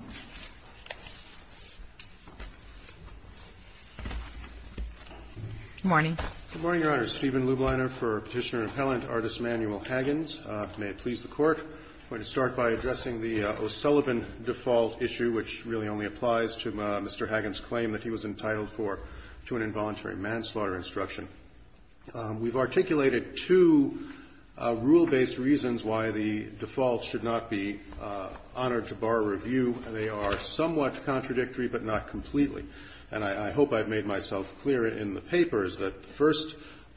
Good morning, Your Honor. Stephen Lubliner for Petitioner and Appellant, Artists' Manual, Haggins. May it please the Court, I'm going to start by addressing the O'Sullivan default issue, which really only applies to Mr. Haggins' claim that he was entitled for, to an involuntary manslaughter instruction. We've articulated two rule-based reasons why the default should not be honored to bar review. They are somewhat contradictory, but not completely. And I hope I've made myself clear in the papers that the first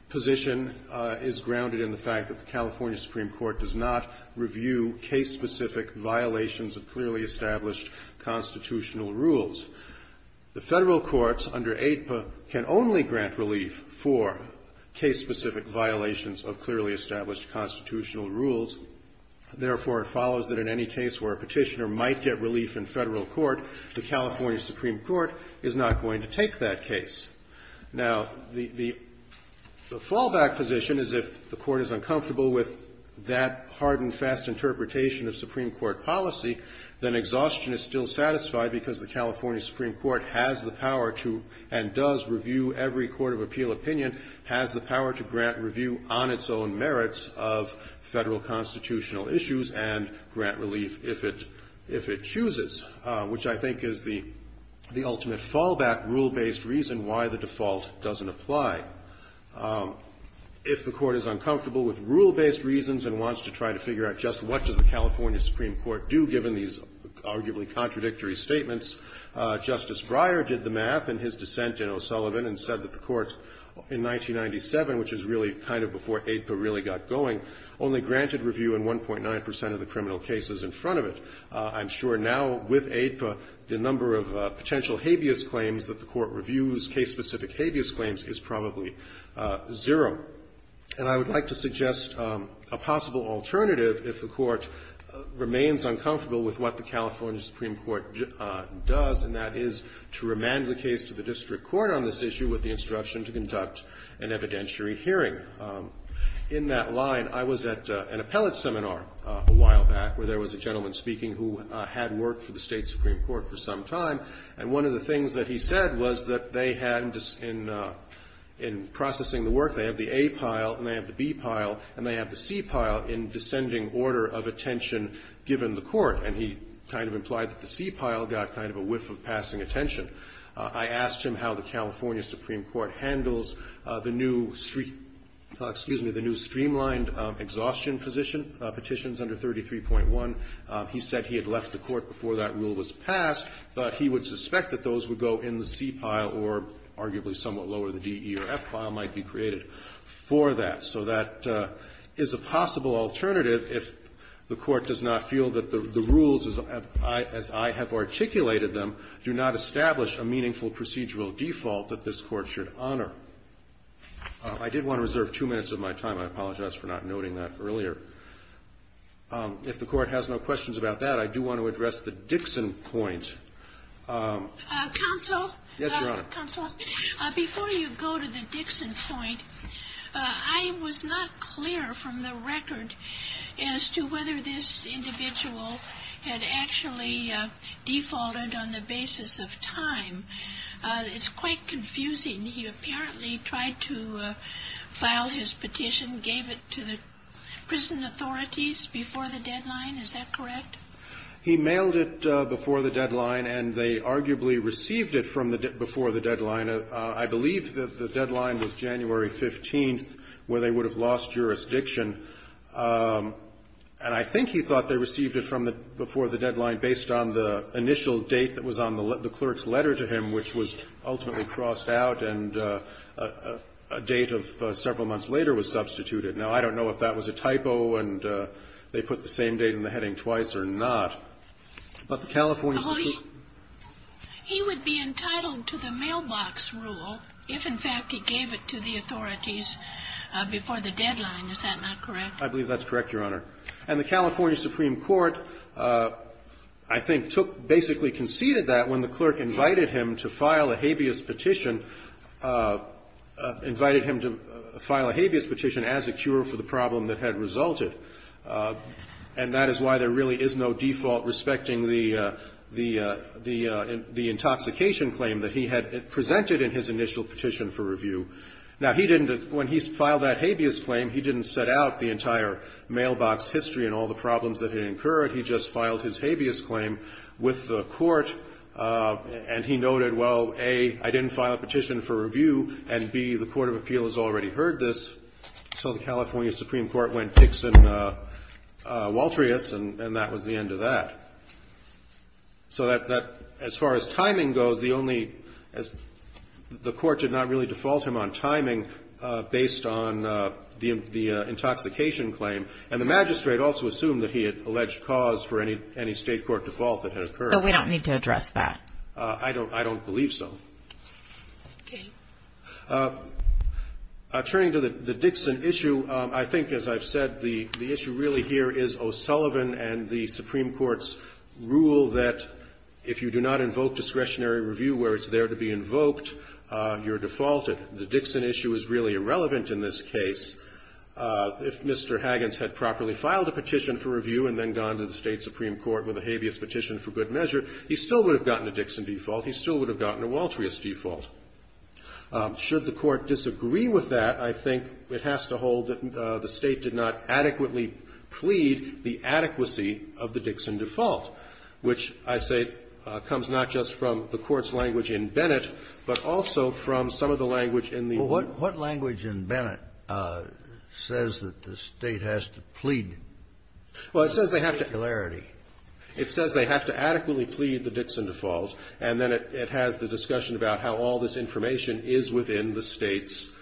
position is grounded in the fact that the California Supreme Court does not review case-specific violations of clearly established constitutional rules. The Federal courts under AIPA can only grant relief for case-specific violations of clearly established constitutional rules. Therefore, it follows that in any case where a Petitioner might get relief in Federal court, the California Supreme Court is not going to take that case. Now, the fallback position is if the Court is uncomfortable with that hard and fast interpretation of Supreme Court policy, then exhaustion is still satisfied, because the California Supreme Court has the power to and does review every court of appeal opinion, has the power to grant review on its own merits of Federal constitutional issues and grant relief if it chooses, which I think is the ultimate fallback rule-based reason why the default doesn't apply. If the Court is uncomfortable with rule-based reasons and wants to try to figure out just what does the California Supreme Court do, given these arguably contradictory statements, Justice Breyer did the math in his dissent in O'Sullivan and said that if the Court in 1997, which is really kind of before AIPA really got going, only granted review in 1.9 percent of the criminal cases in front of it, I'm sure now with AIPA the number of potential habeas claims that the Court reviews, case-specific habeas claims, is probably zero. And I would like to suggest a possible alternative if the Court remains uncomfortable with what the California Supreme Court does, and that is to remand the case to the California Supreme Court for instruction to conduct an evidentiary hearing. In that line, I was at an appellate seminar a while back where there was a gentleman speaking who had worked for the State Supreme Court for some time, and one of the things that he said was that they had in processing the work, they had the A pile and they had the B pile and they had the C pile in descending order of attention So that is a possible alternative if the Court does not feel that the rules, as I have articulated them, do not establish a meaningful procedural default that this Court should honor. I did want to reserve two minutes of my time. I apologize for not noting that earlier. If the Court has no questions about that, I do want to address the Dixon point. Counsel? Yes, Your Honor. Counsel, before you go to the Dixon point, I was not clear from the record as to whether this individual had actually defaulted on the basis of time. It's quite confusing. He apparently tried to file his petition, gave it to the prison authorities before the deadline. Is that correct? He mailed it before the deadline, and they arguably received it from the before the deadline. I believe that the deadline was January 15th, where they would have lost jurisdiction. And I think he thought they received it from the before the deadline based on the clerk's letter to him, which was ultimately crossed out and a date of several months later was substituted. Now, I don't know if that was a typo, and they put the same date in the heading twice or not. But the California Supreme Court He would be entitled to the mailbox rule if, in fact, he gave it to the authorities before the deadline. Is that not correct? I believe that's correct, Your Honor. And the California Supreme Court, I think, took basically conceded that when the clerk invited him to file a habeas petition, invited him to file a habeas petition as a cure for the problem that had resulted. And that is why there really is no default respecting the intoxication claim that he had presented in his initial petition for review. Now, when he filed that habeas claim, he didn't set out the entire mailbox history and all the problems that had incurred. He just filed his habeas claim with the court, and he noted, well, A, I didn't file a petition for review, and B, the Court of Appeal has already heard this. So the California Supreme Court went fix in Walterius, and that was the end of that. So as far as timing goes, the only as the court did not really default him on timing based on the intoxication claim, and the magistrate also assumed that he had alleged cause for any state court default that had occurred. So we don't need to address that? I don't believe so. Okay. Turning to the Dixon issue, I think, as I've said, the issue really here is O'Sullivan and the Supreme Court's rule that if you do not invoke discretionary review where it's there to be invoked, you're defaulted. The Dixon issue is really irrelevant in this case. If Mr. Haggins had properly filed a petition for review and then gone to the State Supreme Court with a habeas petition for good measure, he still would have gotten a Dixon default, he still would have gotten a Walterius default. Should the Court disagree with that, I think it has to hold that the State did not adequately plead the adequacy of the Dixon default, which I say comes not just from the Court's language in Bennett, but also from some of the language in the room. Well, what language in Bennett says that the State has to plead? Well, it says they have to adequately plead the Dixon default, and then it has the discussion about how all this information is within the State's –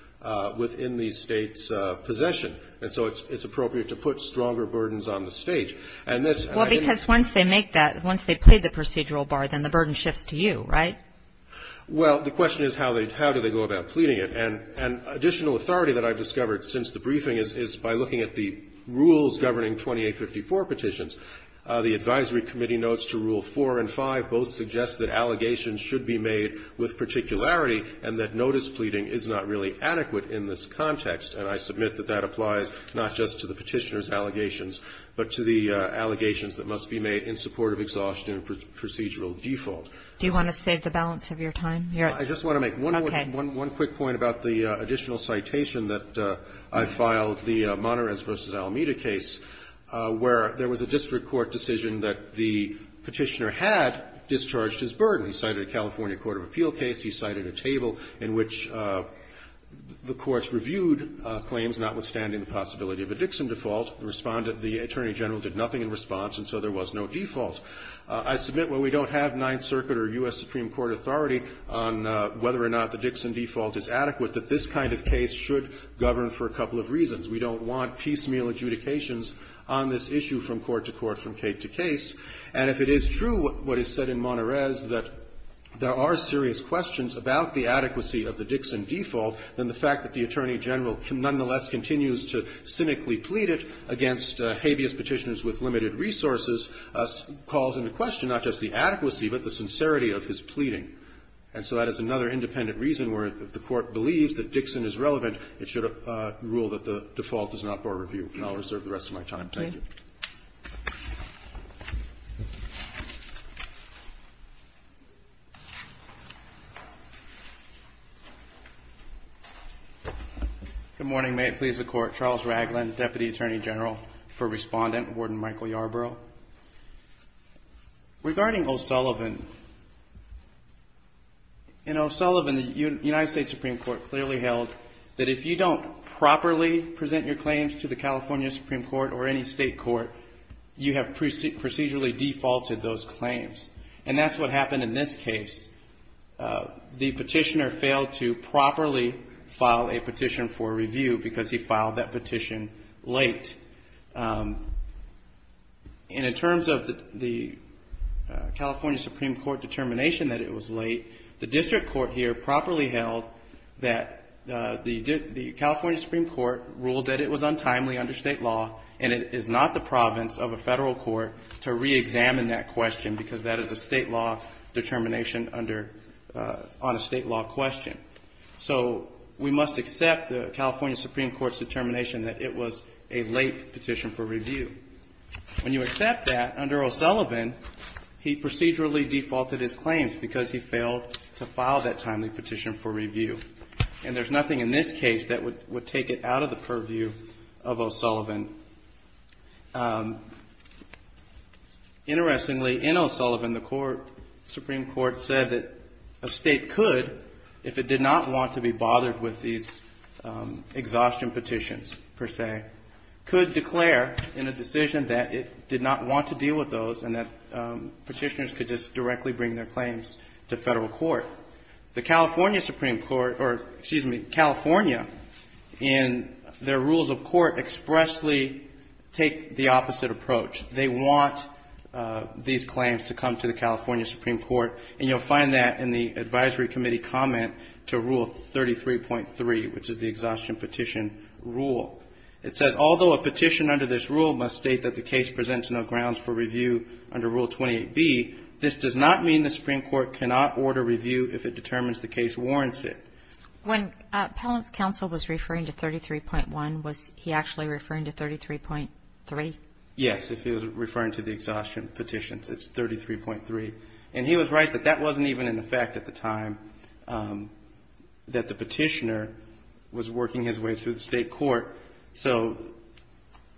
within the State's possession. And so it's appropriate to put stronger burdens on the State. And this – Well, because once they make that, once they plead the procedural bar, then the burden shifts to you, right? Well, the question is how they – how do they go about pleading it? And additional authority that I've discovered since the briefing is by looking at the rules governing 2854 petitions, the advisory committee notes to Rule 4 and 5 both suggest that allegations should be made with particularity and that notice pleading is not really adequate in this context, and I submit that that applies not just to the Petitioner's allegations, but to the allegations that must be made in support of exhaustion and procedural default. Do you want to save the balance of your time? I just want to make one quick point about the additional citation that I filed, the Monterrez v. Alameda case, where there was a district court decision that the Petitioner had discharged his burden. He cited a California court of appeal case. He cited a table in which the courts reviewed claims notwithstanding the possibility of a Dixon default. The Attorney General did nothing in response, and so there was no default. I submit, while we don't have Ninth Circuit or U.S. Supreme Court authority on whether or not the Dixon default is adequate, that this kind of case should govern for a couple of reasons. We don't want piecemeal adjudications on this issue from court to court, from case to case. And if it is true what is said in Monterrez, that there are serious questions about the adequacy of the Dixon default, then the fact that the Attorney General nonetheless continues to cynically plead it against habeas Petitioners with limited resources calls into question not just the adequacy, but the sincerity of his pleading. And so that is another independent reason where if the Court believes that Dixon is relevant, it should rule that the default is not for review. And I'll reserve the rest of my time. Thank you. Roberts. Good morning. May it please the Court. Charles Ragland, Deputy Attorney General for Respondent, Warden Michael Yarbrough. Regarding O'Sullivan, in O'Sullivan, the United States Supreme Court clearly held that if you don't properly present your claims to the California Supreme Court or any state court, you have procedurally defaulted those claims. And that's what happened in this case. The petitioner failed to properly file a petition for review because he filed that petition late. And in terms of the California Supreme Court determination that it was late, the district court here properly held that the California Supreme Court ruled that it was untimely under state law, and it is not the province of a federal court to reexamine that question because that is a state law determination under, on a state law question. So we must accept the California Supreme Court's determination that it was a late petition for review. When you accept that, under O'Sullivan, he procedurally defaulted his claims because he failed to file that timely petition for review. And there's nothing in this case that would take it out of the purview of O'Sullivan. Interestingly, in O'Sullivan, the Supreme Court said that a state could, if it did not want to be bothered with these exhaustion petitions, per se, could declare in a decision that it did not want to deal with those and that petitioners could just directly bring their claims to federal court. The California Supreme Court, or excuse me, California, in their rules of court expressly take the opposite approach. They want these claims to come to the California Supreme Court, and you'll find that in the advisory committee comment to rule 33.3, which is the exhaustion petition rule. It says, although a petition under this rule must state that the case presents no grounds for review under rule 28B, this does not mean the Supreme Court cannot order review if it determines the case warrants it. When Pellant's counsel was referring to 33.1, was he actually referring to 33.3? Yes, if he was referring to the exhaustion petitions, it's 33.3. And he was right that that wasn't even in effect at the time that the petitioner was working his way through the state court. So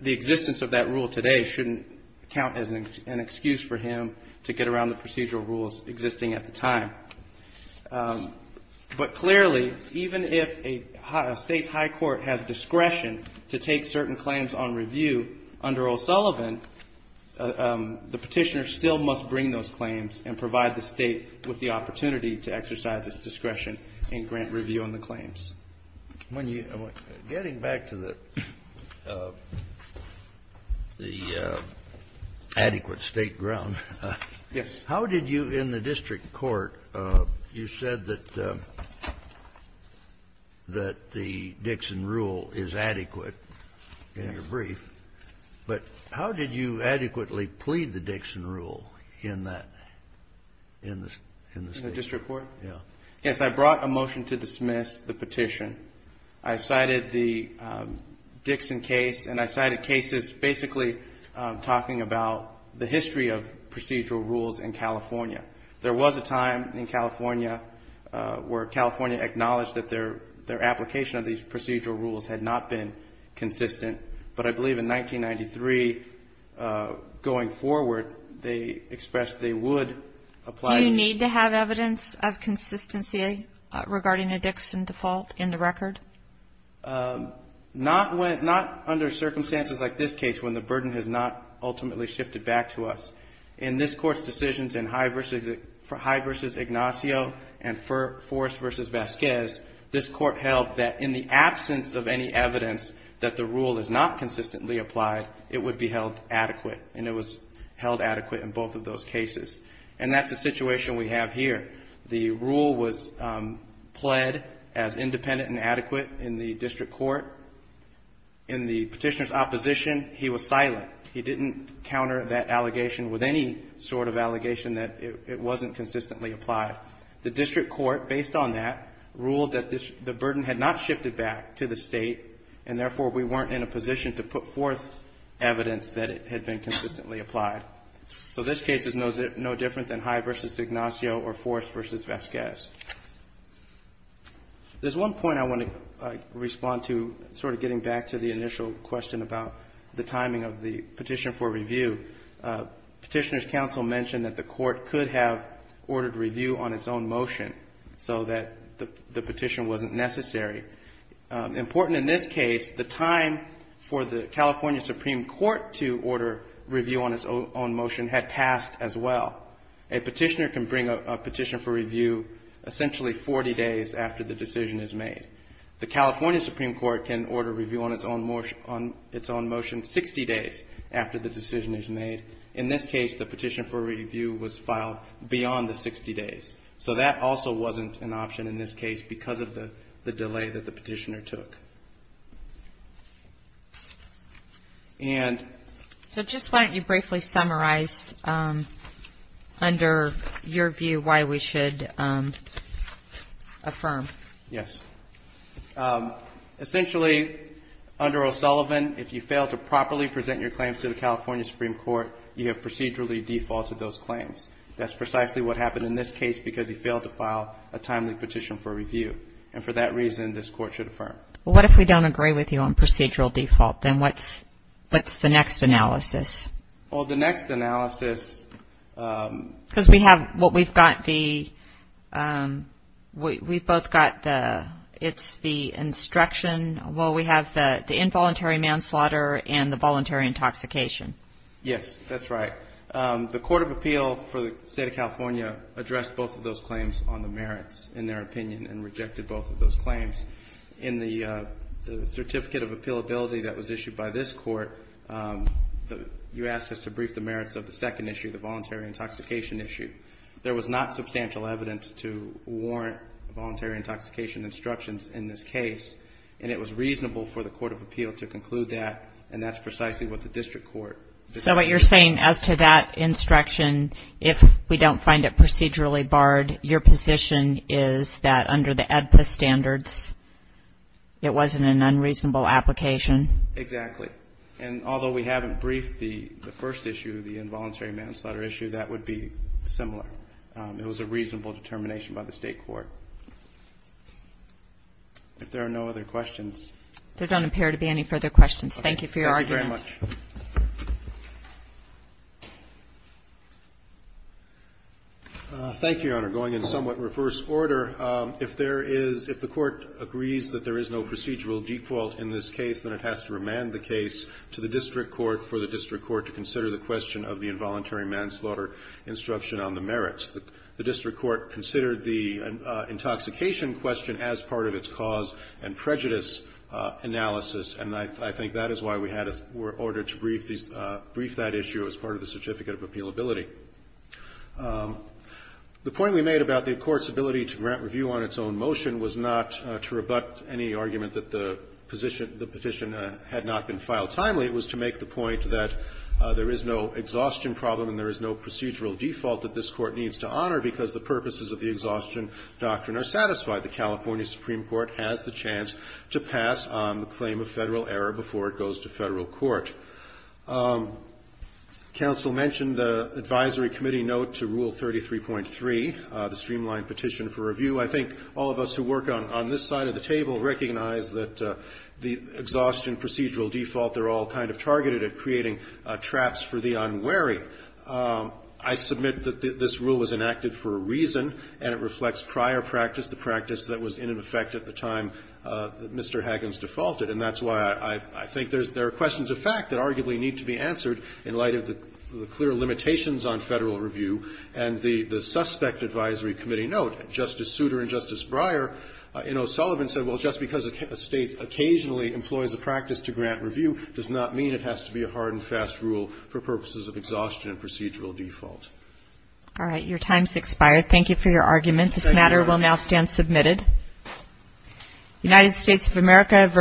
the existence of that rule today shouldn't count as an excuse for him to get around the procedural rules existing at the time. But clearly, even if a state's high court has discretion to take certain and provide the State with the opportunity to exercise its discretion in grant review on the claims. When you go back to the adequate State ground, how did you in the district court you said that the Dixon rule is adequate in your brief, but how did you adequately plead the Dixon rule in that case? In the district court? Yes. Yes, I brought a motion to dismiss the petition. I cited the Dixon case, and I cited cases basically talking about the history of procedural rules in California. There was a time in California where California acknowledged that their application of these procedural rules had not been consistent, but I believe in 1993, going forward, they expressed they would apply. Do you need to have evidence of consistency regarding a Dixon default in the record? Not under circumstances like this case when the burden has not ultimately shifted back to us. In this court's decisions in High v. Ignacio and Forrest v. Vasquez, this court held that in the absence of any evidence that the rule is not consistently applied, it would be held adequate, and it was held adequate in both of those cases, and that's the situation we have here. The rule was pled as independent and adequate in the district court. In the petitioner's opposition, he was silent. He didn't counter that allegation with any sort of allegation that it wasn't consistently applied. The district court, based on that, ruled that the burden had not shifted back to the state, and therefore, we weren't in a position to put forth evidence that it had been consistently applied. So this case is no different than High v. Ignacio or Forrest v. Vasquez. There's one point I want to respond to, sort of getting back to the initial question about the timing of the petition for review. Petitioner's counsel mentioned that the court could have ordered review on its own It's important in this case, the time for the California Supreme Court to order review on its own motion had passed as well. A petitioner can bring a petition for review essentially 40 days after the decision is made. The California Supreme Court can order review on its own motion 60 days after the decision is made. In this case, the petition for review was filed beyond the 60 days. So that also wasn't an option in this case because of the delay that the petitioner took. And... So just why don't you briefly summarize under your view why we should affirm. Yes. Essentially, under O'Sullivan, if you fail to properly present your claims to the California Supreme Court, you have procedurally defaulted those claims. That's precisely what happened in this case because he failed to file a timely petition for review. And for that reason, this court should affirm. Well, what if we don't agree with you on procedural default? Then what's the next analysis? Well, the next analysis... Because we have what we've got the... We've both got the... It's the instruction. Well, we have the involuntary manslaughter and the voluntary intoxication. Yes, that's right. The Court of Appeal for the State of California addressed both of those claims on the merits, in their opinion, and rejected both of those claims. In the certificate of appealability that was issued by this court, you asked us to brief the merits of the second issue, the voluntary intoxication issue. There was not substantial evidence to warrant voluntary intoxication instructions in this case. And it was reasonable for the Court of Appeal to conclude that. And that's precisely what the district court... So what you're saying as to that instruction, if we don't find it procedurally barred, your position is that under the AEDPA standards, it wasn't an unreasonable application? Exactly. And although we haven't briefed the first issue, the involuntary manslaughter issue, that would be similar. It was a reasonable determination by the state court. If there are no other questions... There don't appear to be any further questions. Thank you for your argument. Thank you very much. Thank you, Your Honor. Going in somewhat reverse order, if there is, if the court agrees that there is no procedural default in this case, then it has to remand the case to the district court for the district court to consider the question of the involuntary manslaughter instruction on the merits. The district court considered the intoxication question as part of its cause and prejudice analysis, and I think that is why we were ordered to brief that issue as part of the certificate of appealability. The point we made about the court's ability to grant review on its own motion was not to rebut any argument that the petition had not been filed timely. It was to make the point that there is no exhaustion problem and there is no procedural default that this court needs to honor because the purposes of the exhaustion doctrine are satisfied. The California Supreme Court has the chance to pass on the claim of Federal error before it goes to Federal court. Counsel mentioned the advisory committee note to Rule 33.3, the streamlined petition for review. I think all of us who work on this side of the table recognize that the exhaustion procedural default, they're all kind of targeted at creating traps for the unwary. I submit that this rule was enacted for a reason, and it reflects prior practice, the practice that was in effect at the time that Mr. Haggins defaulted, and that's why I think there are questions of fact that arguably need to be answered in light of the clear limitations on Federal review and the suspect advisory committee note. Justice Souter and Justice Breyer in O'Sullivan said, well, just because a State occasionally employs a practice to grant review does not mean it has to be a hard and fast rule for purposes of exhaustion and procedural default. All right. Your time's expired. Thank you for your argument. This matter will now stand submitted. United States of America v.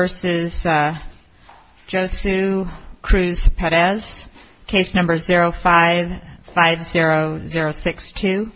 Josue Cruz Perez, case number 0550062.